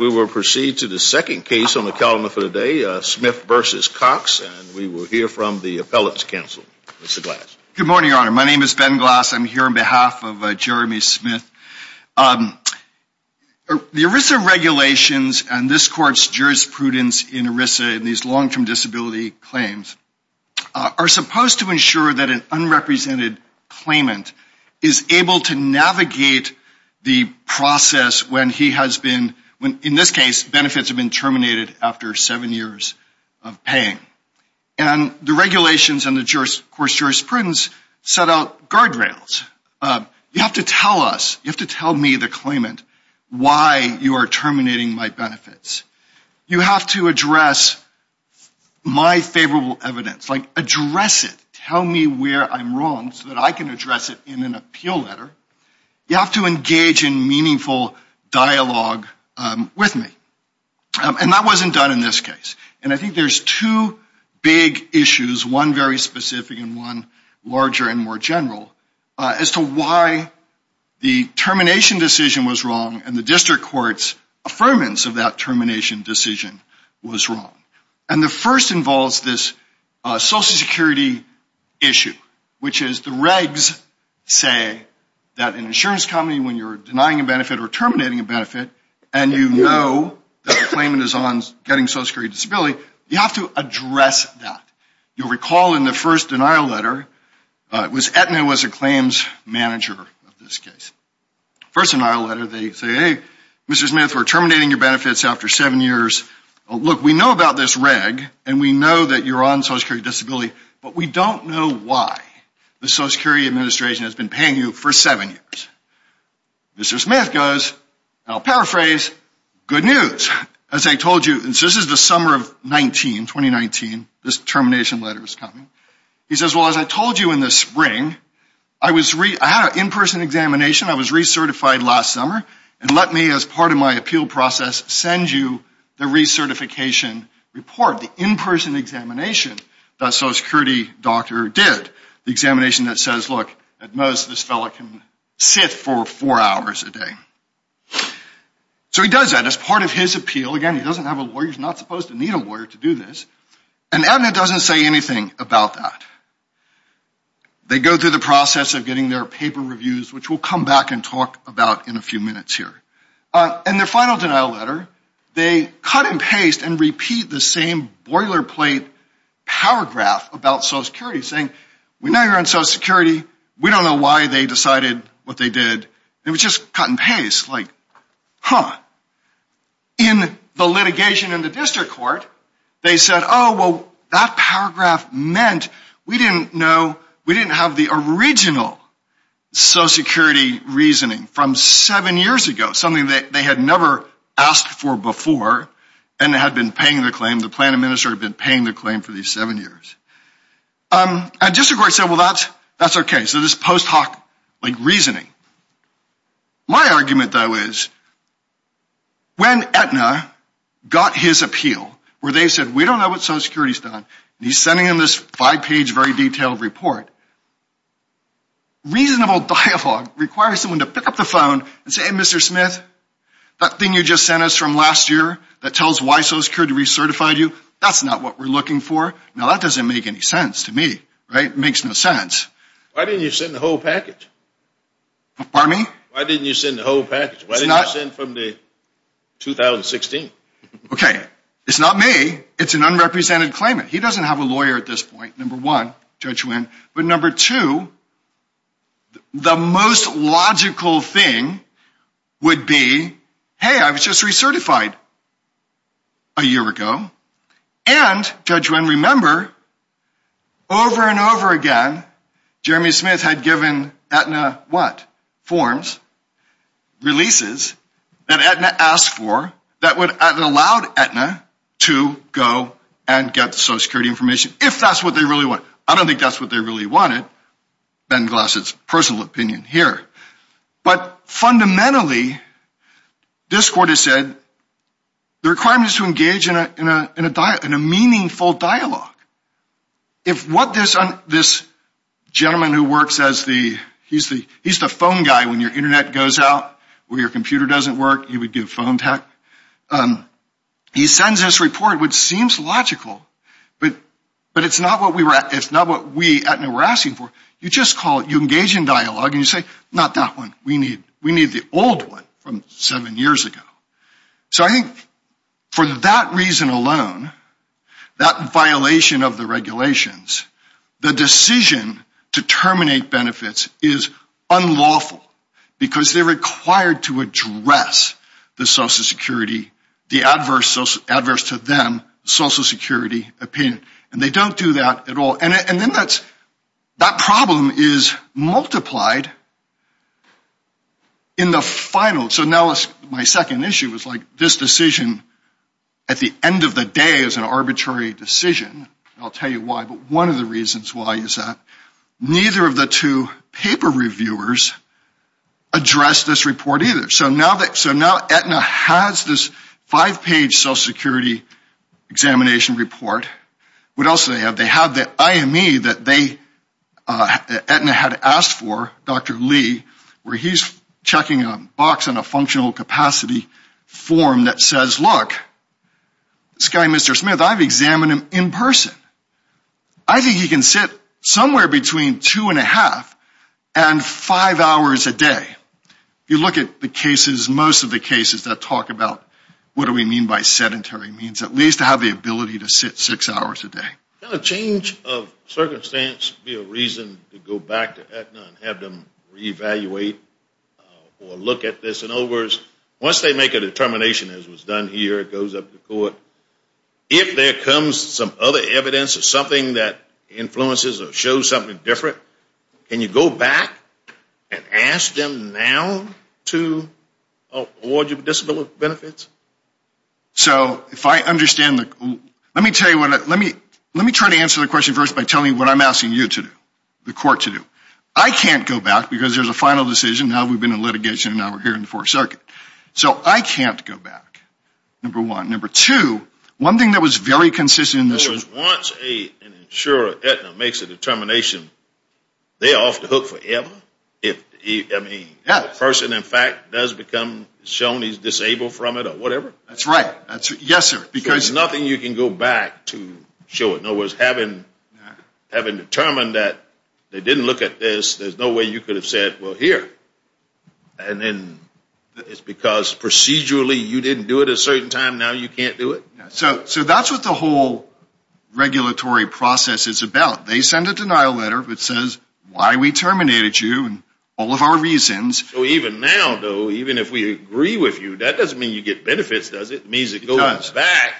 We will proceed to the second case on the calendar for the day, Smith v. Cox, and we will hear from the appellate's counsel, Mr. Glass. Good morning, Your Honor. My name is Ben Glass. I'm here on behalf of Jeremy Smith. The ERISA regulations and this Court's jurisprudence in ERISA in these long-term disability claims are supposed to ensure that an unrepresented claimant is able to navigate the process when he has been, in this case, benefits have been terminated after seven years of paying. And the regulations and the Court's jurisprudence set out guardrails. You have to tell us, you have to tell me, the claimant, why you are terminating my benefits. You have to address my favorable evidence, like address it. Tell me where I'm wrong so that I can address it in an appeal letter. You have to engage in meaningful dialogue with me. And that wasn't done in this case. And I think there's two big issues, one very specific and one larger and more general, as to why the termination decision was wrong and the District Court's affirmance of that termination decision was wrong. And the first involves this Social Security issue, which is the regs say that an insurance company, when you're denying a benefit or terminating a benefit, and you know that a claimant is on getting Social Security Disability, you have to address that. You'll recall in the first denial letter, it was Aetna who was the claims manager of this case. First denial letter, they say, hey, Mr. Smith, we're terminating your benefits after seven years. Look, we know about this reg and we know that you're on Social Security Disability, but we don't know why the Social Security Administration has been paying you for seven years. Mr. Smith goes, and I'll paraphrase, good news. As I told you, this is the summer of 2019, this termination letter is coming. He says, well, as I told you in the spring, I had an in-person examination. I was recertified last summer. And let me, as part of my appeal process, send you the recertification report, the in-person examination that Social Security doctor did, the examination that says, look, at most this fellow can sit for four hours a day. So he does that as part of his appeal. Again, he doesn't have a lawyer. He's not supposed to need a lawyer to do this. And Aetna doesn't say anything about that. They go through the process of getting their paper reviews, which we'll come back and talk about in a few minutes here. In their final denial letter, they cut and paste and repeat the same boilerplate paragraph about Social Security, saying, we know you're on Social Security. We don't know why they decided what they did. It was just cut and paste, like, huh. In the litigation in the district court, they said, oh, well, that paragraph meant we didn't know, we didn't have the original Social Security reasoning from seven years ago, something that they had never asked for before and had been paying the claim, the plan administrator had been paying the claim for these seven years. And district court said, well, that's okay. So this post hoc, like, reasoning. My argument, though, is when Aetna got his appeal, where they said, we don't know what Social Security's done, and he's sending them this five-page, very detailed report, reasonable dialogue requires someone to pick up the phone and say, hey, Mr. Smith, that thing you just sent us from last year that tells why Social Security recertified you, that's not what we're looking for. Now, that doesn't make any sense to me, right? It makes no sense. Why didn't you send the whole package? Pardon me? Why didn't you send the whole package? Why didn't you send from the 2016? Okay. It's not me. It's an unrepresented claimant. He doesn't have a lawyer at this point, number one, Judge Wynn. But number two, the most logical thing would be, hey, I was just recertified a year ago, and, Judge Wynn, remember, over and over again, Jeremy Smith had given Aetna what? Forms, releases that Aetna asked for that would have allowed Aetna to go and get the Social Security information, if that's what they really want. I don't think that's what they really wanted, Ben Glass's personal opinion here. But fundamentally, this court has said the requirement is to engage in a meaningful dialogue. If what this gentleman who works as the, he's the phone guy when your Internet goes out, where your computer doesn't work, you would give phone tech. He sends this report, which seems logical, but it's not what we, Aetna, were asking for. You just call, you engage in dialogue, and you say, not that one. We need the old one from seven years ago. So I think for that reason alone, that violation of the regulations, the decision to terminate benefits is unlawful because they're required to address the Social Security, the adverse to them Social Security opinion, and they don't do that at all. And then that problem is multiplied in the final. So now my second issue is like this decision at the end of the day is an arbitrary decision. I'll tell you why, but one of the reasons why is that neither of the two paper reviewers addressed this report either. So now Aetna has this five-page Social Security examination report. What else do they have? They have the IME that Aetna had asked for, Dr. Lee, where he's checking a box in a functional capacity form that says, look, this guy, Mr. Smith, I've examined him in person. I think he can sit somewhere between two and a half and five hours a day. You look at the cases, most of the cases that talk about what do we mean by sedentary means, at least to have the ability to sit six hours a day. Can a change of circumstance be a reason to go back to Aetna and have them reevaluate or look at this? In other words, once they make a determination, as was done here, it goes up to court. If there comes some other evidence or something that influences or shows something different, can you go back and ask them now to award you with disability benefits? Let me try to answer the question first by telling you what I'm asking you to do, the court to do. I can't go back because there's a final decision. Now we've been in litigation and now we're here in the Fourth Circuit. So I can't go back, number one. Number two, one thing that was very consistent in this was once an insurer at Aetna makes a determination, they're off the hook forever. If a person, in fact, does become shown he's disabled from it or whatever? That's right. Yes, sir. So there's nothing you can go back to show. In other words, having determined that they didn't look at this, there's no way you could have said, well, here. And then it's because procedurally you didn't do it a certain time, now you can't do it? So that's what the whole regulatory process is about. They send a denial letter that says why we terminated you and all of our reasons. So even now, though, even if we agree with you, that doesn't mean you get benefits, does it? It means it goes back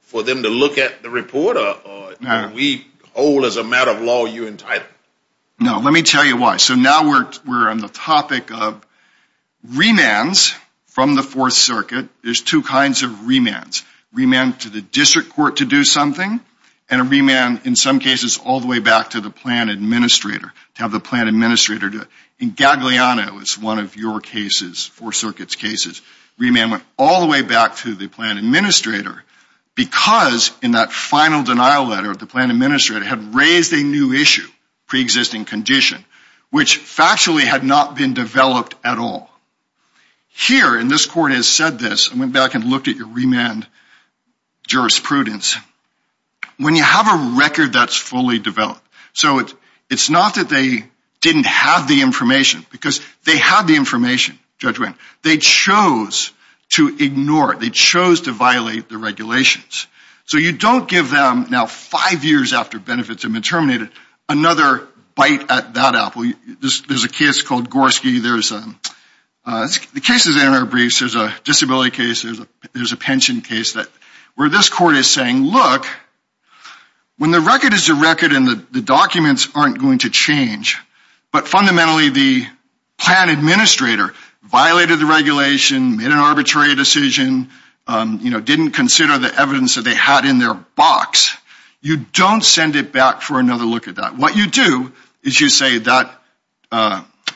for them to look at the report or we hold as a matter of law you entitled? No, let me tell you why. So now we're on the topic of remands from the Fourth Circuit. There's two kinds of remands. Remand to the district court to do something and a remand, in some cases, all the way back to the plan administrator, to have the plan administrator do it. In Gagliano, it was one of your cases, Fourth Circuit's cases. Remand went all the way back to the plan administrator because in that final denial letter, the plan administrator had raised a new issue, preexisting condition, which factually had not been developed at all. Here, and this court has said this, I went back and looked at your remand jurisprudence. When you have a record that's fully developed, so it's not that they didn't have the information because they had the information, Judge Wendt. They chose to ignore it. They chose to violate the regulations. So you don't give them, now five years after benefits have been terminated, another bite at that apple. There's a case called Gorski. The case is in our briefs. There's a disability case. There's a pension case where this court is saying, look, when the record is the record and the documents aren't going to change, but fundamentally the plan administrator violated the regulation, made an arbitrary decision, didn't consider the evidence that they had in their box, you don't send it back for another look at that. What you do is you say that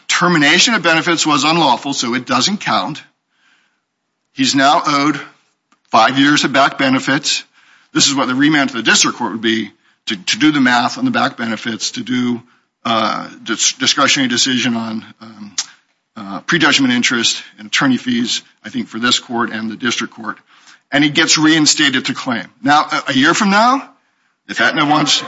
termination of benefits was unlawful, so it doesn't count. He's now owed five years of back benefits. This is what the remand to the district court would be, to do the math on the back benefits, to do discretionary decision on pre-judgment interest and attorney fees, I think, for this court and the district court. And he gets reinstated to claim. Now, a year from now, if that no one's.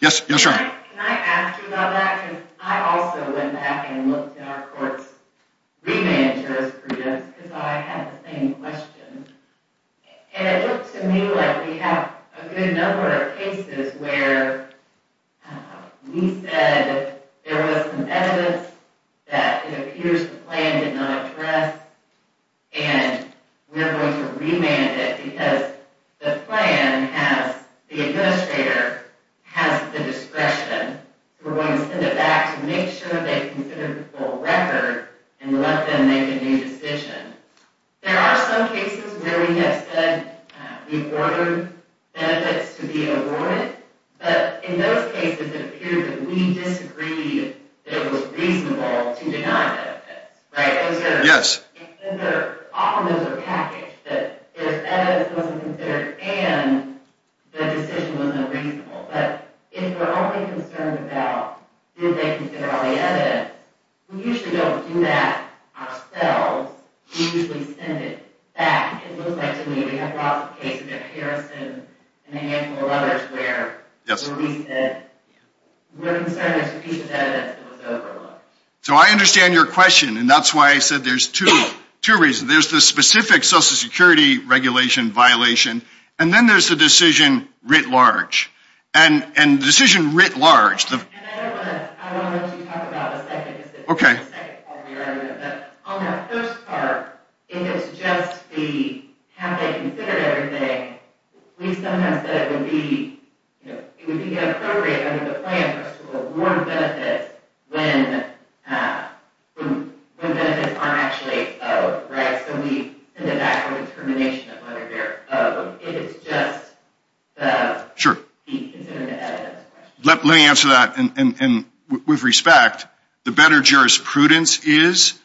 Yes. Yes, sir. Can I ask you about that? Because I also went back and looked at our court's remand jurisprudence because I had the same question. And it looked to me like we have a good number of cases where we said there was some evidence that it appears the plan did not address, and we're going to remand it because the plan has the administrator, has the discretion. We're going to send it back to make sure they consider the full record and let them make a new decision. There are some cases where we have said we've ordered benefits to be avoided. But in those cases, it appeared that we disagreed that it was reasonable to deny benefits, right? Yes. Often those are packaged, that if evidence wasn't considered and the decision was not reasonable. But if we're only concerned about did they consider all the evidence, we usually don't do that ourselves. We usually send it back. It looks like to me we have lots of cases in Harrison and a handful of others where we said we're concerned there's a piece of evidence that was overlooked. So I understand your question, and that's why I said there's two reasons. There's the specific Social Security regulation violation, and then there's the decision writ large. And the decision writ large. I want to let you talk about the second part of your argument. On that first part, if it's just the have they considered everything, we sometimes said it would be inappropriate under the plan for us to award benefits when benefits aren't actually owed, right? So we send it back for determination of whether they're owed. If it's just the considering the evidence question. Let me answer that with respect. The better jurisprudence is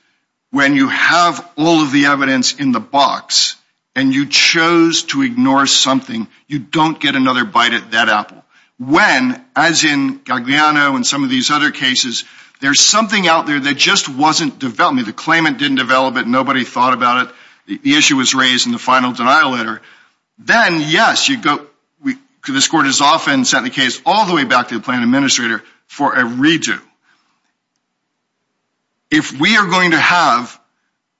when you have all of the evidence in the box and you chose to ignore something, you don't get another bite at that apple. When, as in Gagliano and some of these other cases, there's something out there that just wasn't developed. The claimant didn't develop it. Nobody thought about it. The issue was raised in the final denial letter. Then, yes, this court is often sent the case all the way back to the plan administrator for a redo. If we are going to have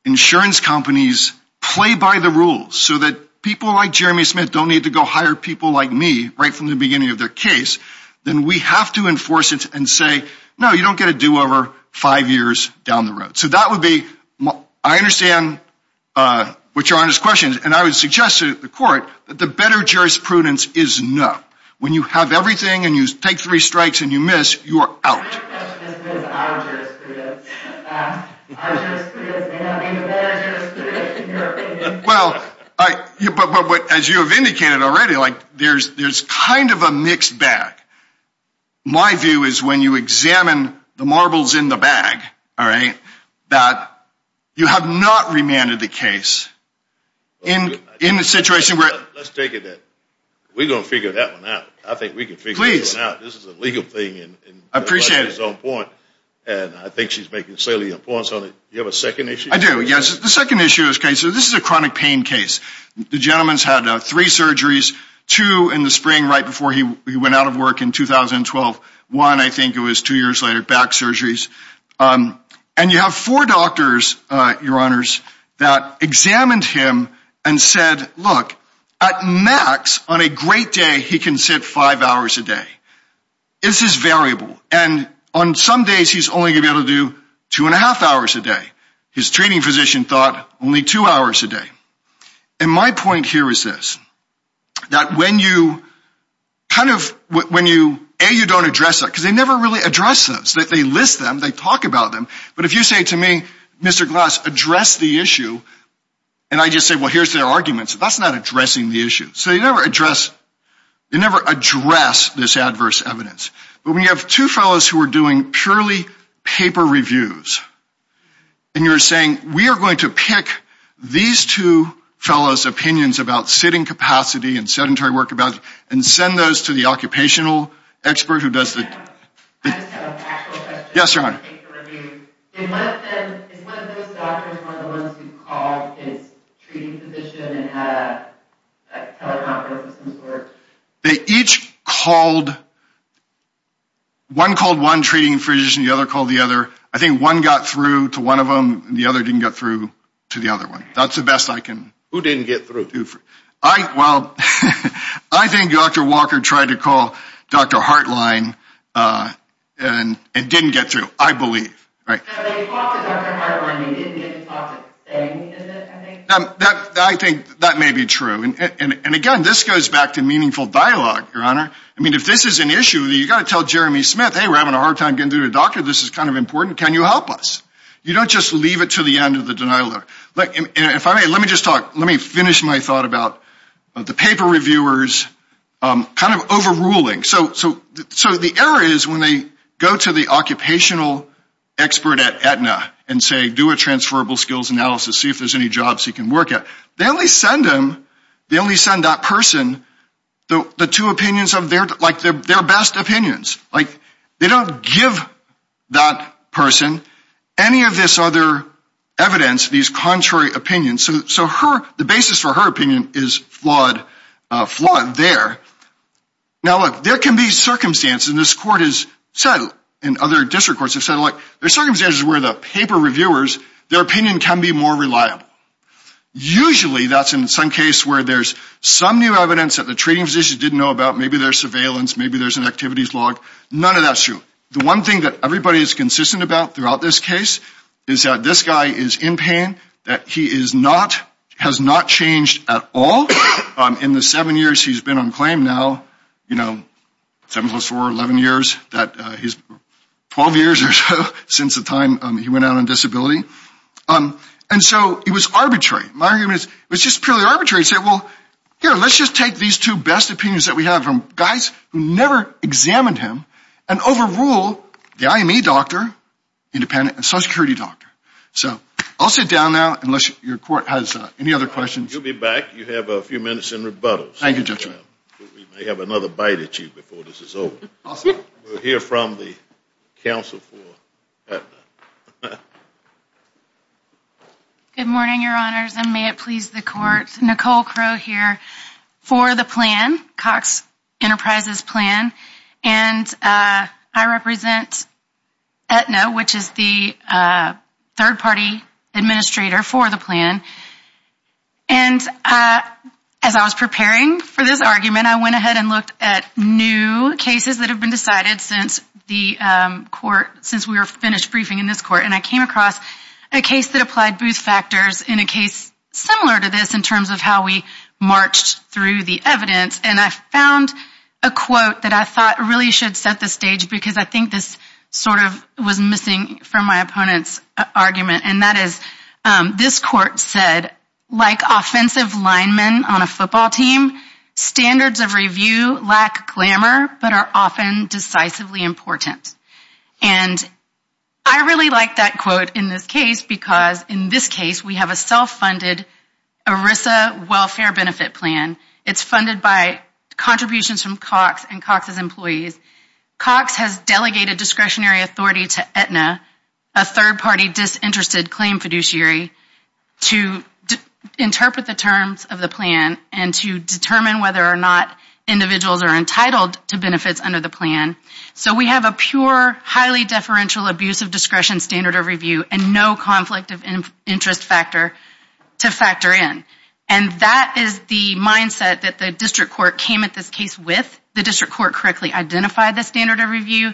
insurance companies play by the rules so that people like Jeremy Smith don't need to go hire people like me right from the beginning of their case, then we have to enforce it and say, no, you don't get a do-over five years down the road. So that would be, I understand what your Honor's question is. And I would suggest to the court that the better jurisprudence is no. When you have everything and you take three strikes and you miss, you are out. My question is, what is our jurisprudence? Our jurisprudence may not be the better jurisprudence in your opinion. Well, as you have indicated already, there's kind of a mixed bag. My view is when you examine the marbles in the bag, all right, that you have not remanded the case in the situation where ‑‑ Let's take it that we're going to figure that one out. I think we can figure that one out. This is a legal thing. I appreciate it. And I think she's making a point on it. Do you have a second issue? I do, yes. The second issue is, okay, so this is a chronic pain case. The gentleman's had three surgeries, two in the spring right before he went out of work in 2012. One, I think it was two years later, back surgeries. And you have four doctors, your Honors, that examined him and said, look, at max on a great day he can sit five hours a day. This is variable. And on some days he's only going to be able to do two and a half hours a day. His treating physician thought only two hours a day. And my point here is this. That when you kind of ‑‑ A, you don't address that. Because they never really address those. They list them. They talk about them. But if you say to me, Mr. Glass, address the issue, and I just say, well, here's their arguments, that's not addressing the issue. So you never address ‑‑ you never address this adverse evidence. But when you have two fellows who are doing purely paper reviews, and you're saying, we are going to pick these two fellows' opinions about sitting capacity and sedentary work, and send those to the occupational expert who does the ‑‑ I just have a factual question. Yes, your Honor. Is one of those doctors one of the ones who called his treating physician and had a teleconference of some sort? They each called ‑‑ one called one treating physician. The other called the other. I think one got through to one of them. The other didn't get through to the other one. That's the best I can do. Who didn't get through? Well, I think Dr. Walker tried to call Dr. Hartline and didn't get through, I believe. I think that may be true. And again, this goes back to meaningful dialogue, your Honor. I mean, if this is an issue, you've got to tell Jeremy Smith, hey, we're having a hard time getting through to the doctor. This is kind of important. Can you help us? You don't just leave it to the end of the denial letter. Let me finish my thought about the paper reviewers kind of overruling. So the error is when they go to the occupational expert at Aetna and say do a transferable skills analysis, see if there's any jobs he can work at, they only send him, they only send that person the two opinions of their ‑‑ like their best opinions. They don't give that person any of this other evidence, these contrary opinions. So the basis for her opinion is flawed there. Now, look, there can be circumstances, and this court has said, and other district courts have said, there are circumstances where the paper reviewers, their opinion can be more reliable. Usually that's in some case where there's some new evidence that the treating physician didn't know about. Maybe there's surveillance. Maybe there's an activities log. None of that's true. The one thing that everybody is consistent about throughout this case is that this guy is in pain, that he is not, has not changed at all. In the seven years he's been on claim now, you know, seven plus four, 11 years, 12 years or so since the time he went out on disability. And so it was arbitrary. My argument is it was just purely arbitrary to say, well, here, let's just take these two best opinions that we have from guys who never examined him and overrule the IME doctor, independent and social security doctor. So I'll sit down now unless your court has any other questions. You'll be back. You have a few minutes in rebuttals. Thank you, Judge. We may have another bite at you before this is over. We'll hear from the counsel. Good morning, Your Honors. And may it please the court. Nicole Crowe here for the plan, Cox Enterprises plan. And I represent Aetna, which is the third party administrator for the plan. And as I was preparing for this argument, I went ahead and looked at new cases that have been decided since the court, since we were finished briefing in this court. And I came across a case that applied Booth factors in a case similar to this in terms of how we marched through the evidence. And I found a quote that I thought really should set the stage because I think this sort of was missing from my opponent's argument. And that is, this court said, like offensive linemen on a football team, standards of review lack glamor but are often decisively important. And I really like that quote in this case because in this case we have a self-funded ERISA welfare benefit plan. It's funded by contributions from Cox and Cox's employees. Cox has delegated discretionary authority to Aetna, a third party disinterested claim fiduciary, to interpret the terms of the plan and to determine whether or not individuals are entitled to benefits under the plan. So we have a pure, highly deferential abuse of discretion standard of review and no conflict of interest factor to factor in. And that is the mindset that the district court came at this case with. The district court correctly identified the standard of review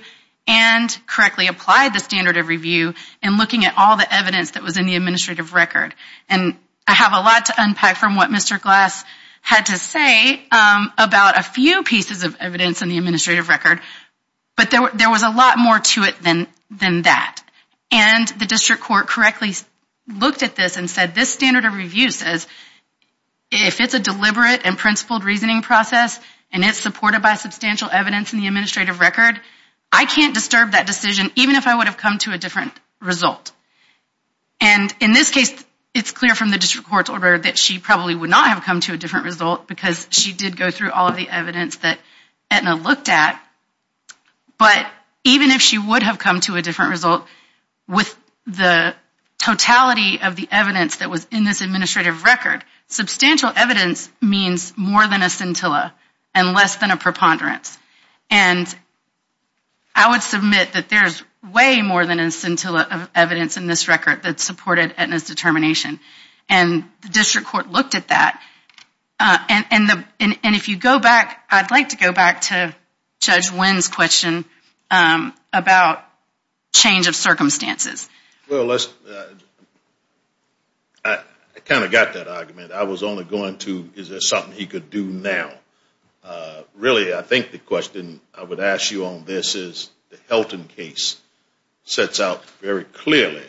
and correctly applied the standard of review in looking at all the evidence that was in the administrative record. And I have a lot to unpack from what Mr. Glass had to say about a few pieces of evidence in the administrative record. But there was a lot more to it than that. And the district court correctly looked at this and said this standard of review says if it's a deliberate and principled reasoning process and it's supported by substantial evidence in the administrative record, I can't disturb that decision even if I would have come to a different result. And in this case it's clear from the district court's order that she probably would not have come to a different result because she did go through all of the evidence that Aetna looked at. But even if she would have come to a different result with the totality of the evidence that was in this administrative record, substantial evidence means more than a scintilla and less than a preponderance. And I would submit that there's way more than a scintilla of evidence in this record that supported Aetna's determination. And the district court looked at that. And if you go back, I'd like to go back to Judge Wynn's question about change of circumstances. Well, I kind of got that argument. I was only going to is there something he could do now. Really, I think the question I would ask you on this is the Helton case sets out very clearly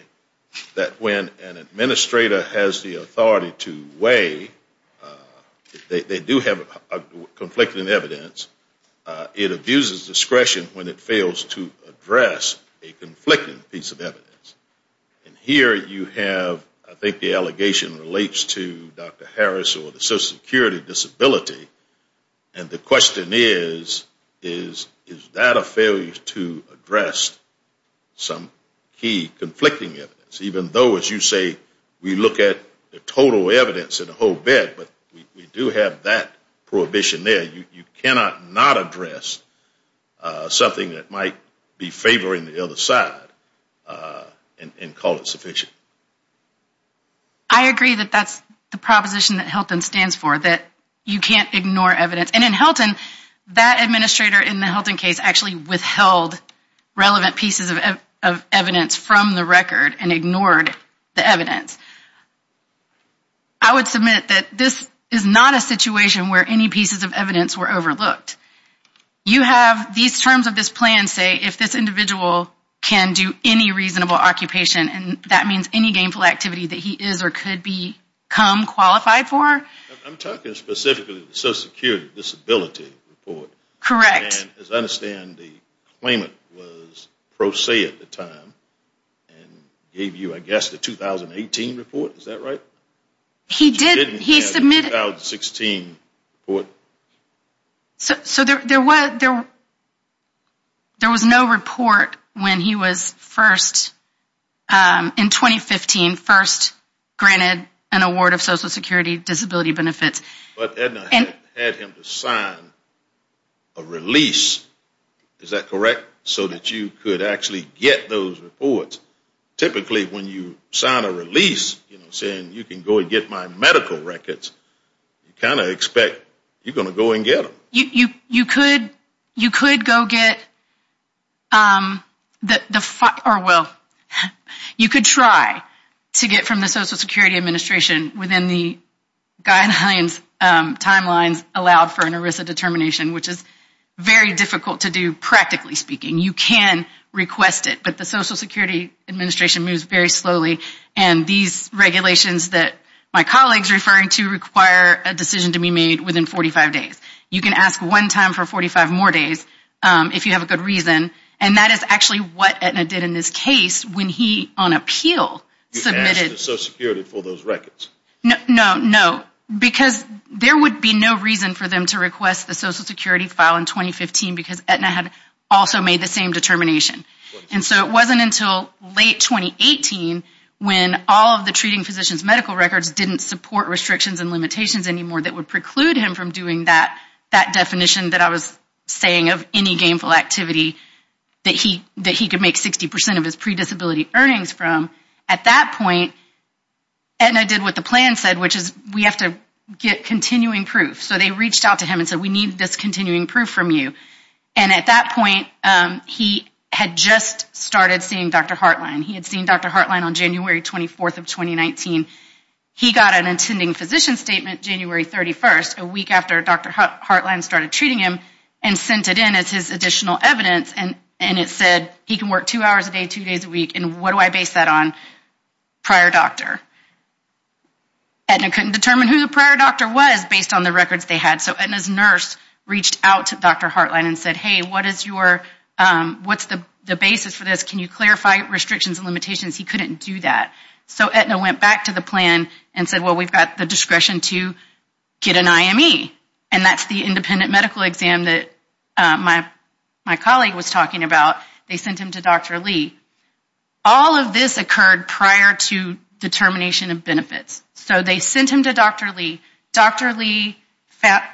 that when an administrator has the authority to weigh, they do have conflicting evidence, it abuses discretion when it fails to address a conflicting piece of evidence. And here you have, I think the allegation relates to Dr. Harris or the social security disability. And the question is, is that a failure to address some key conflicting evidence? Even though, as you say, we look at the total evidence and the whole bit, but we do have that prohibition there. You cannot not address something that might be favoring the other side. And call it sufficient. I agree that that's the proposition that Helton stands for, that you can't ignore evidence. And in Helton, that administrator in the Helton case actually withheld relevant pieces of evidence from the record and ignored the evidence. I would submit that this is not a situation where any pieces of evidence were overlooked. You have these terms of this plan say if this individual can do any reasonable occupation, and that means any gainful activity that he is or could be come qualified for. I'm talking specifically social security disability report. Correct. And as I understand, the claimant was pro se at the time and gave you, I guess, the 2018 report. Is that right? He did. He submitted. The 2016 report. So there was no report when he was first, in 2015, first granted an award of social security disability benefits. But Edna had him sign a release. Is that correct? So that you could actually get those reports. Typically when you sign a release saying you can go and get my medical records, you kind of expect you're going to go and get them. You could go get the, or well, you could try to get from the social security administration within the guidelines, timelines allowed for an ERISA determination, which is very difficult to do practically speaking. You can request it, but the social security administration moves very slowly. And these regulations that my colleague is referring to require a decision to be made within 45 days. You can ask one time for 45 more days if you have a good reason. And that is actually what Edna did in this case when he, on appeal, submitted. You asked the social security for those records. No, because there would be no reason for them to request the social security file in 2015 because Edna had also made the same determination. And so it wasn't until late 2018 when all of the treating physicians medical records didn't support restrictions and limitations anymore that would preclude him from doing that definition that I was saying of any gainful activity that he could make 60% of his predisability earnings from. At that point, Edna did what the plan said, which is we have to get continuing proof. So they reached out to him and said we need this continuing proof from you. And at that point, he had just started seeing Dr. Hartline. He had seen Dr. Hartline on January 24th of 2019. He got an intending physician statement January 31st, a week after Dr. Hartline started treating him, and sent it in as his additional evidence. And it said he can work two hours a day, two days a week. And what do I base that on? Prior doctor. Edna couldn't determine who the prior doctor was based on the records they had. So Edna's nurse reached out to Dr. Hartline and said, hey, what is your, what's the basis for this? Can you clarify restrictions and limitations? He couldn't do that. So Edna went back to the plan and said, well, we've got the discretion to get an IME. And that's the independent medical exam that my colleague was talking about. They sent him to Dr. Lee. All of this occurred prior to determination of benefits. So they sent him to Dr. Lee. Dr. Lee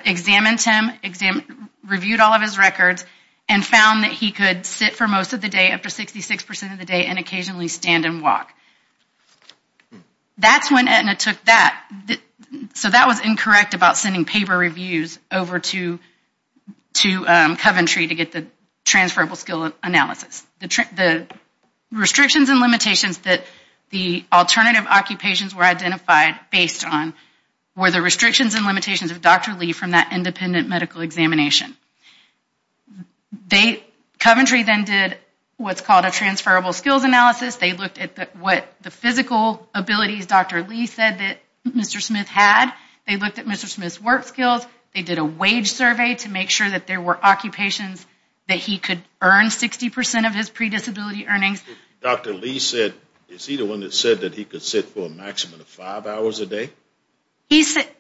examined him, reviewed all of his records, and found that he could sit for most of the day after 66% of the day and occasionally stand and walk. That's when Edna took that. So that was incorrect about sending paper reviews over to Coventry to get the transferable skill analysis. The restrictions and limitations that the alternative occupations were identified based on were the restrictions and limitations of Dr. Lee from that independent medical examination. Coventry then did what's called a transferable skills analysis. They looked at what the physical abilities Dr. Lee said that Mr. Smith had. They looked at Mr. Smith's work skills. They did a wage survey to make sure that there were occupations that he could earn 60% of his predisability earnings. Dr. Lee said, is he the one that said that he could sit for a maximum of five hours a day?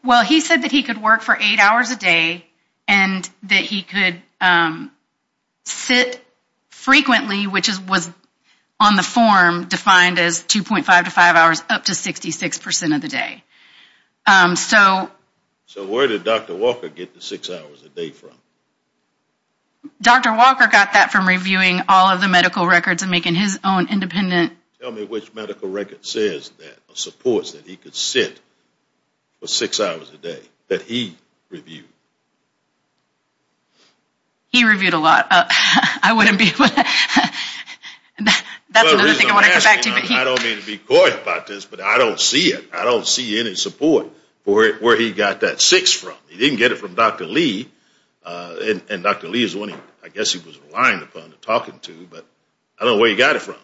Well, he said that he could work for eight hours a day and that he could sit frequently, which was on the form defined as 2.5 to 5 hours up to 66% of the day. So where did Dr. Walker get the six hours a day from? Dr. Walker got that from reviewing all of the medical records and making his own independent. Tell me which medical record says that supports that he could sit for six hours a day that he reviewed. He reviewed a lot. I wouldn't be able to. I don't mean to be coy about this, but I don't see it. I don't see any support for where he got that six from. He didn't get it from Dr. Lee. And Dr. Lee is one I guess he was reliant upon talking to, but I don't know where he got it from.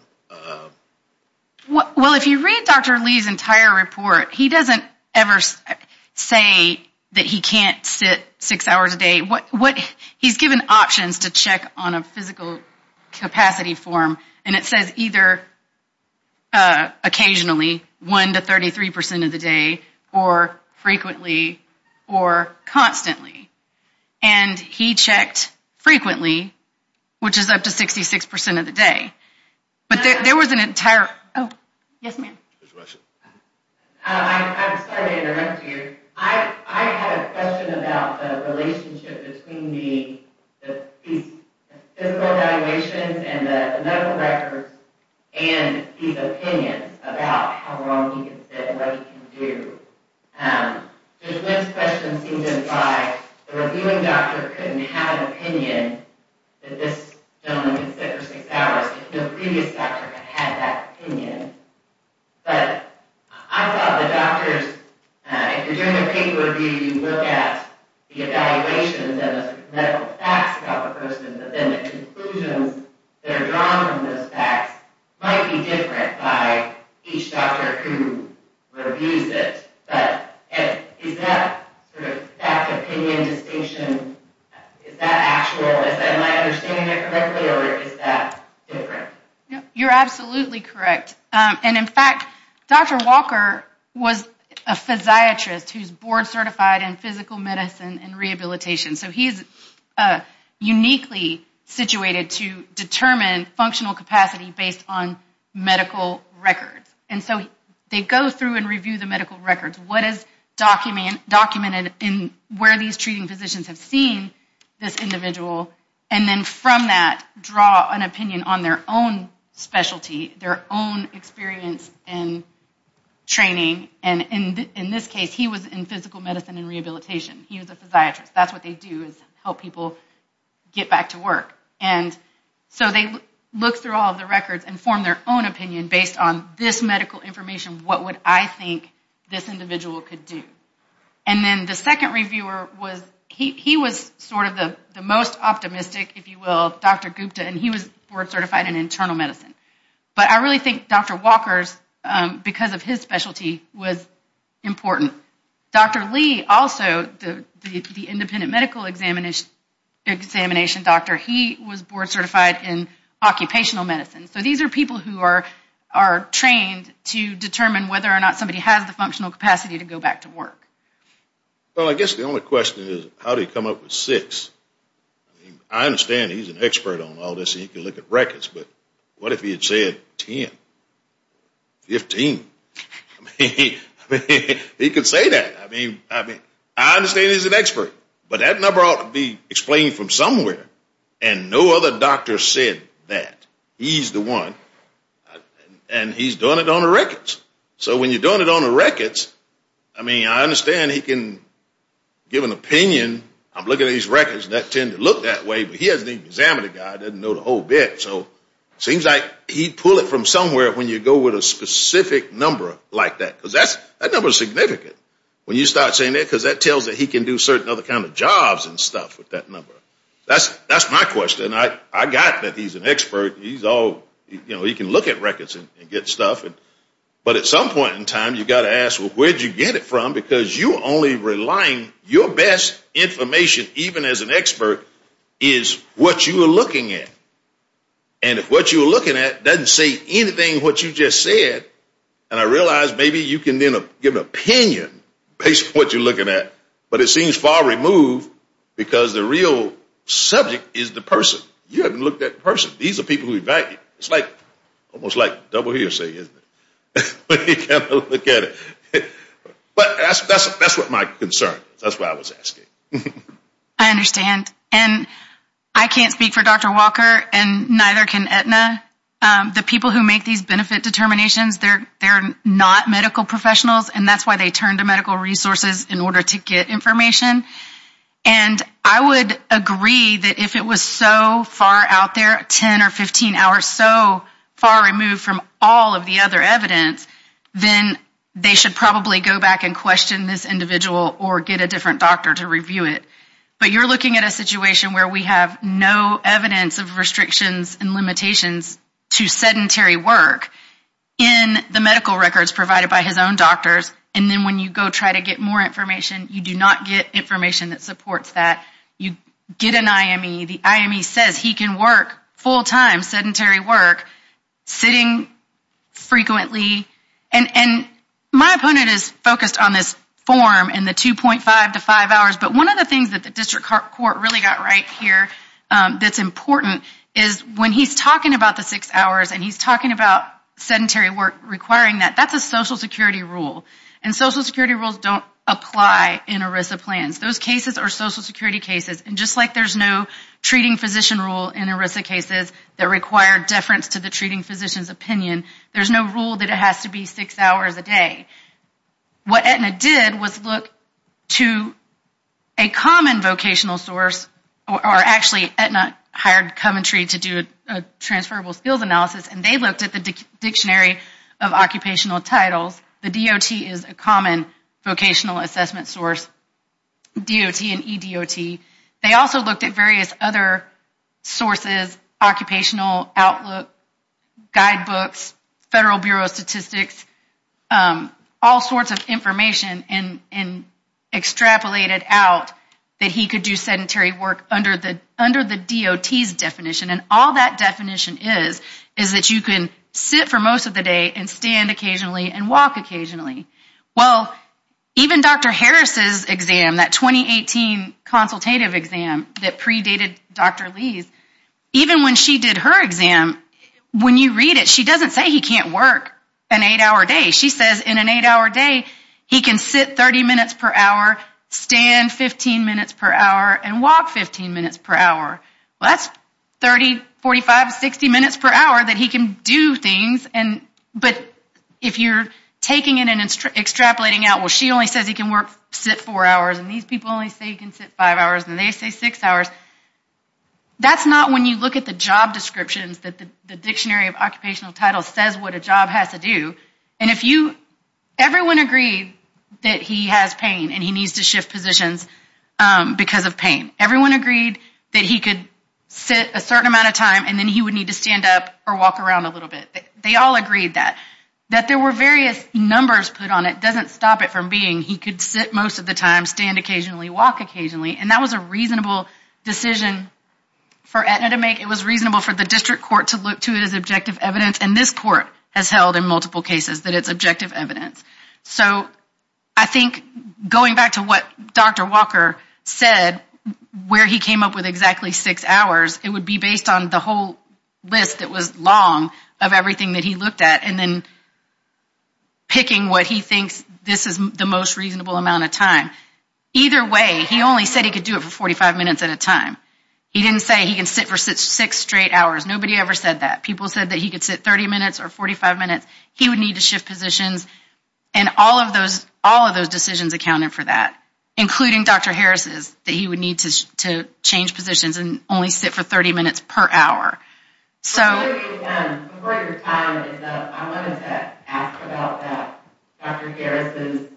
Well, if you read Dr. Lee's entire report, he doesn't ever say that he can't sit six hours a day. What he's given options to check on a physical capacity form. And it says either occasionally one to 33% of the day or frequently or constantly. And he checked frequently, which is up to 66% of the day. But there was an entire. Oh, yes, ma'am. I'm sorry to interrupt you. I had a question about the relationship between the physical evaluations and the medical records and his opinions about how long he can sit and what he can do. This question seems to imply the reviewing doctor couldn't have an opinion that this gentleman can sit for six hours if the previous doctor had that opinion. But I thought the doctors, if you're doing a paper review, you look at the evaluations and the medical facts about the person, but then the conclusions that are drawn from those facts might be different by each doctor who reviews it. Is that fact, opinion, distinction, is that actual? Is that my understanding correctly or is that different? You're absolutely correct. And in fact, Dr. Walker was a physiatrist who's board certified in physical medicine and rehabilitation. So he's uniquely situated to determine functional capacity based on medical records. And so they go through and review the medical records. What is documented in where these treating physicians have seen this individual? And then from that, draw an opinion on their own specialty, their own experience and training. And in this case, he was in physical medicine and rehabilitation. He was a physiatrist. That's what they do is help people get back to work. And so they look through all of the records and form their own opinion based on this medical information. What would I think this individual could do? And then the second reviewer, he was sort of the most optimistic, if you will, Dr. Gupta, and he was board certified in internal medicine. But I really think Dr. Walker's, because of his specialty, was important. Dr. Lee also, the independent medical examination doctor, he was board certified in occupational medicine. So these are people who are trained to determine whether or not somebody has the functional capacity to go back to work. Well, I guess the only question is how do you come up with six? I understand he's an expert on all this. He can look at records. But what if he had said 10, 15? I mean, he could say that. I mean, I understand he's an expert. But that number ought to be explained from somewhere. And no other doctor said that. He's the one. And he's doing it on the records. So when you're doing it on the records, I mean, I understand he can give an opinion. I'm looking at his records, and that tend to look that way. But he hasn't even examined the guy. He doesn't know the whole bit. So it seems like he'd pull it from somewhere when you go with a specific number like that. Because that number is significant when you start saying that. Because that tells that he can do certain other kind of jobs and stuff with that number. That's my question. I got that he's an expert. He's all, you know, he can look at records and get stuff. But at some point in time, you've got to ask, well, where did you get it from? Because you're only relying your best information, even as an expert, is what you are looking at. And if what you're looking at doesn't say anything what you just said, and I realize maybe you can then give an opinion based on what you're looking at, but it seems far removed because the real subject is the person. You haven't looked at the person. These are people who evaluate. It's like almost like double hearsay, isn't it? But that's what my concern is. That's what I was asking. And I can't speak for Dr. Walker, and neither can Aetna. The people who make these benefit determinations, they're not medical professionals, and that's why they turn to medical resources in order to get information. And I would agree that if it was so far out there, 10 or 15 hours, or so far removed from all of the other evidence, then they should probably go back and question this individual or get a different doctor to review it. But you're looking at a situation where we have no evidence of restrictions and limitations to sedentary work in the medical records provided by his own doctors, and then when you go try to get more information, you do not get information that supports that. You get an IME. The IME says he can work full-time sedentary work sitting frequently. And my opponent is focused on this form and the 2.5 to 5 hours, but one of the things that the district court really got right here that's important is when he's talking about the six hours and he's talking about sedentary work requiring that, that's a Social Security rule, and Social Security rules don't apply in ERISA plans. Those cases are Social Security cases, and just like there's no treating physician rule in ERISA cases that require deference to the treating physician's opinion, there's no rule that it has to be six hours a day. What Aetna did was look to a common vocational source, or actually Aetna hired Coventry to do a transferable skills analysis, and they looked at the Dictionary of Occupational Titles. The DOT is a common vocational assessment source, DOT and EDOT. They also looked at various other sources, occupational outlook, guidebooks, Federal Bureau of Statistics, all sorts of information and extrapolated out that he could do sedentary work under the DOT's definition, and all that definition is is that you can sit for most of the day and stand occasionally and walk occasionally. Well, even Dr. Harris's exam, that 2018 consultative exam that predated Dr. Lee's, even when she did her exam, when you read it, she doesn't say he can't work an eight-hour day. She says in an eight-hour day, he can sit 30 minutes per hour, stand 15 minutes per hour, and walk 15 minutes per hour. Well, that's 30, 45, 60 minutes per hour that he can do things, but if you're taking it and extrapolating out, well, she only says he can sit four hours, and these people only say he can sit five hours, and they say six hours, that's not when you look at the job descriptions that the Dictionary of Occupational Titles says what a job has to do, and if you, everyone agreed that he has pain and he needs to shift positions because of pain. Everyone agreed that he could sit a certain amount of time, and then he would need to stand up or walk around a little bit. They all agreed that. That there were various numbers put on it doesn't stop it from being he could sit most of the time, stand occasionally, walk occasionally, and that was a reasonable decision for Aetna to make. It was reasonable for the district court to look to it as objective evidence, and this court has held in multiple cases that it's objective evidence. So I think going back to what Dr. Walker said, where he came up with exactly six hours, it would be based on the whole list that was long of everything that he looked at, and then picking what he thinks this is the most reasonable amount of time. Either way, he only said he could do it for 45 minutes at a time. He didn't say he can sit for six straight hours. Nobody ever said that. People said that he could sit 30 minutes or 45 minutes. He would need to shift positions, and all of those decisions accounted for that, including Dr. Harris's, that he would need to change positions and only sit for 30 minutes per hour. So... Before your time, I wanted to ask about Dr. Harris's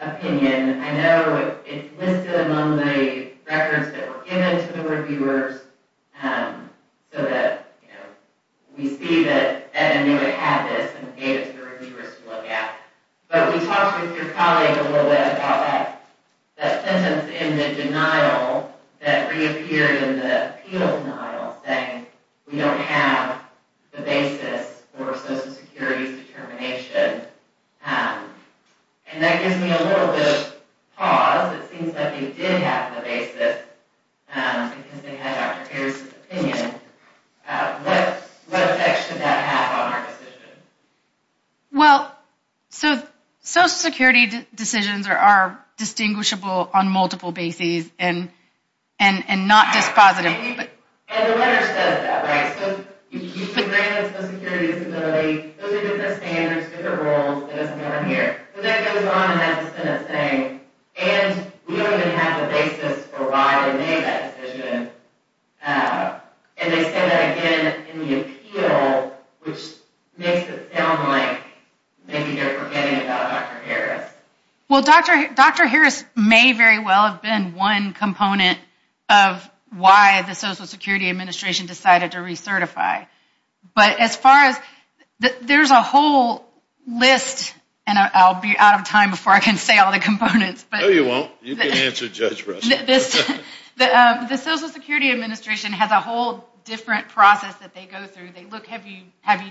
opinion. I know it's listed among the records that were given to the reviewers so that we see that Aetna had this and gave it to the reviewers to look at. But we talked with your colleague a little bit about that sentence in the denial that reappeared in the appeal denial, saying we don't have the basis for Social Security's determination. And that gives me a little bit of pause. It seems like they did have the basis because they had Dr. Harris's opinion. What effect should that have on our decision? Well, Social Security decisions are distinguishable on multiple bases and not just positive. And the letter says that, right? So you can grant Social Security disability. Those are different standards, different rules. It doesn't matter here. So that goes on in that sentence saying, and we don't even have the basis for why they made that decision. And they say that again in the appeal, which makes it sound like maybe they're forgetting about Dr. Harris. Well, Dr. Harris may very well have been one component of why the Social Security Administration decided to recertify. But as far as, there's a whole list, and I'll be out of time before I can say all the components. No, you won't. You can answer Judge Russell. The Social Security Administration has a whole different process that they go through. They look, have you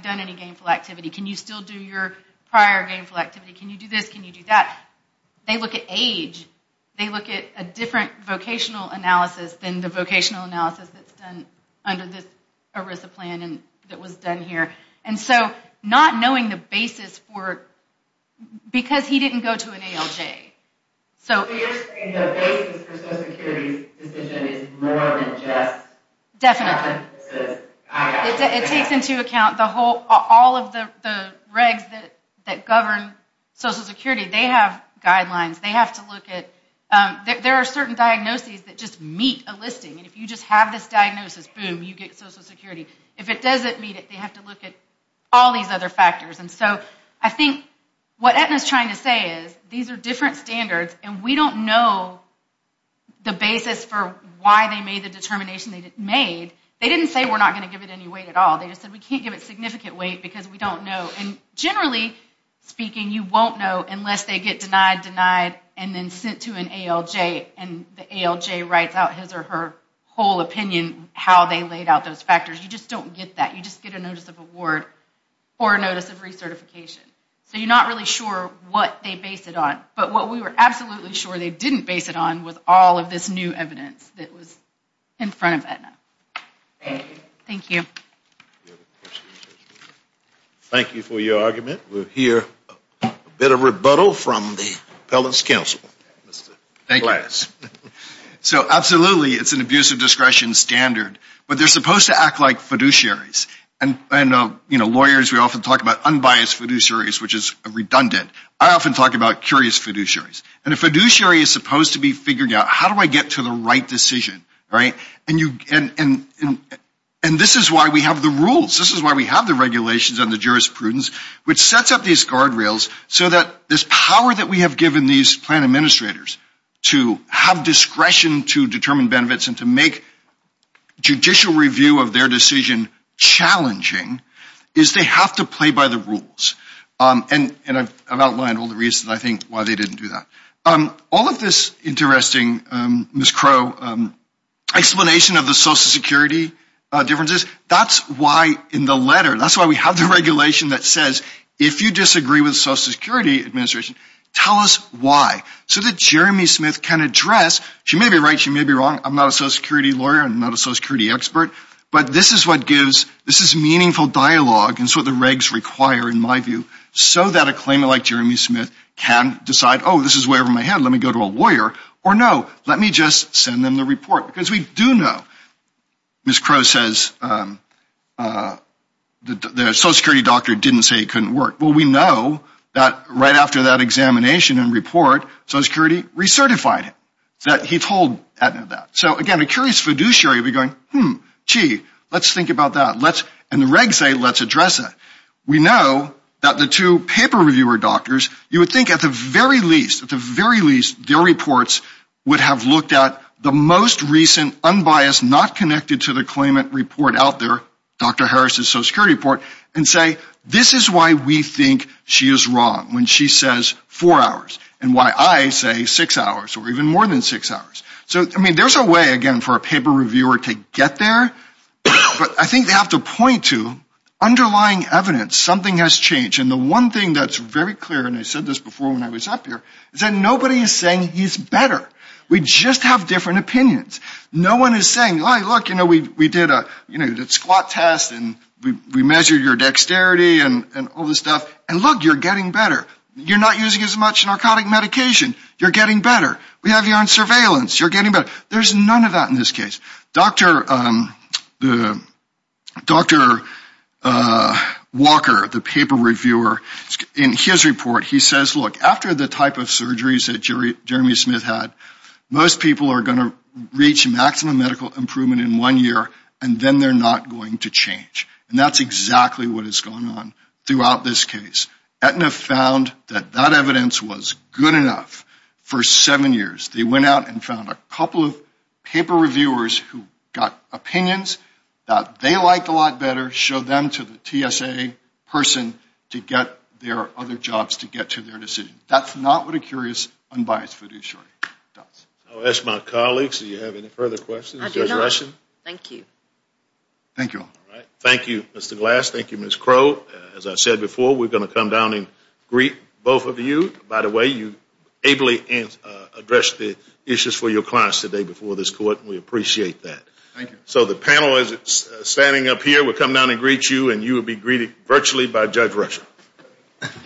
done any gainful activity? Can you still do your prior gainful activity? Can you do this? Can you do that? They look at age. They look at a different vocational analysis than the vocational analysis that's done under this ERISA plan that was done here. And so not knowing the basis for, because he didn't go to an ALJ. So you're saying the basis for Social Security's decision is more than just diagnosis? It takes into account all of the regs that govern Social Security. They have guidelines. They have to look at, there are certain diagnoses that just meet a listing. And if you just have this diagnosis, boom, you get Social Security. If it doesn't meet it, they have to look at all these other factors. And so I think what Aetna's trying to say is these are different standards, and we don't know the basis for why they made the determination they made. They didn't say we're not going to give it any weight at all. They just said we can't give it significant weight because we don't know. And generally speaking, you won't know unless they get denied, denied, and then sent to an ALJ, and the ALJ writes out his or her whole opinion, how they laid out those factors. You just don't get that. You just get a notice of award or a notice of recertification. So you're not really sure what they based it on. But what we were absolutely sure they didn't base it on was all of this new evidence that was in front of Aetna. Thank you. Thank you for your argument. We'll hear a bit of rebuttal from the appellate's counsel. Thank you. So absolutely, it's an abuse of discretion standard, but they're supposed to act like fiduciaries. Lawyers, we often talk about unbiased fiduciaries, which is redundant. I often talk about curious fiduciaries. And a fiduciary is supposed to be figuring out, how do I get to the right decision? And this is why we have the rules. This is why we have the regulations and the jurisprudence, which sets up these guardrails so that this power that we have given these plan administrators to have discretion to determine benefits and to make judicial review of their decision challenging, is they have to play by the rules. And I've outlined all the reasons, I think, why they didn't do that. All of this interesting, Ms. Crow, explanation of the Social Security differences, that's why in the letter, that's why we have the regulation that says, if you disagree with the Social Security Administration, tell us why, so that Jeremy Smith can address, she may be right, she may be wrong, I'm not a Social Security lawyer, I'm not a Social Security expert, but this is what gives, this is meaningful dialogue, and so the regs require, in my view, so that a claimant like Jeremy Smith can decide, oh, this is way over my head, let me go to a lawyer, or no, let me just send them the report, because we do know, Ms. Crow says, the Social Security doctor didn't say it couldn't work. Well, we know that right after that examination and report, Social Security recertified it, that he told Edna that. So again, a curious fiduciary would be going, hmm, gee, let's think about that, and the regs say, let's address that. We know that the two paper reviewer doctors, you would think at the very least, at the very least, their reports would have looked at the most recent, unbiased, not connected to the claimant report out there, Dr. Harris' Social Security report, and say, this is why we think she is wrong, when she says four hours, and why I say six hours, or even more than six hours. So, I mean, there's a way, again, for a paper reviewer to get there, but I think they have to point to underlying evidence. Something has changed, and the one thing that's very clear, and I said this before when I was up here, is that nobody is saying he's better. We just have different opinions. No one is saying, look, we did a squat test, and we measured your dexterity, and all this stuff, and look, you're getting better. You're not using as much narcotic medication. You're getting better. We have you on surveillance. You're getting better. There's none of that in this case. Dr. Walker, the paper reviewer, in his report, he says, look, after the type of surgeries that Jeremy Smith had, most people are going to reach maximum medical improvement in one year, and then they're not going to change. And that's exactly what has gone on throughout this case. Aetna found that that evidence was good enough for seven years. They went out and found a couple of paper reviewers who got opinions that they liked a lot better, showed them to the TSA person to get their other jobs to get to their decision. That's not what a curious, unbiased fiduciary does. I'll ask my colleagues, do you have any further questions? I do not. Thank you. Thank you. All right. Thank you, Mr. Glass. Thank you, Ms. Crow. As I said before, we're going to come down and greet both of you. By the way, you ably addressed the issues for your clients today before this court, and we appreciate that. Thank you. So the panel is standing up here. We'll come down and greet you, and you will be greeted virtually by Judge Rusher. She waves.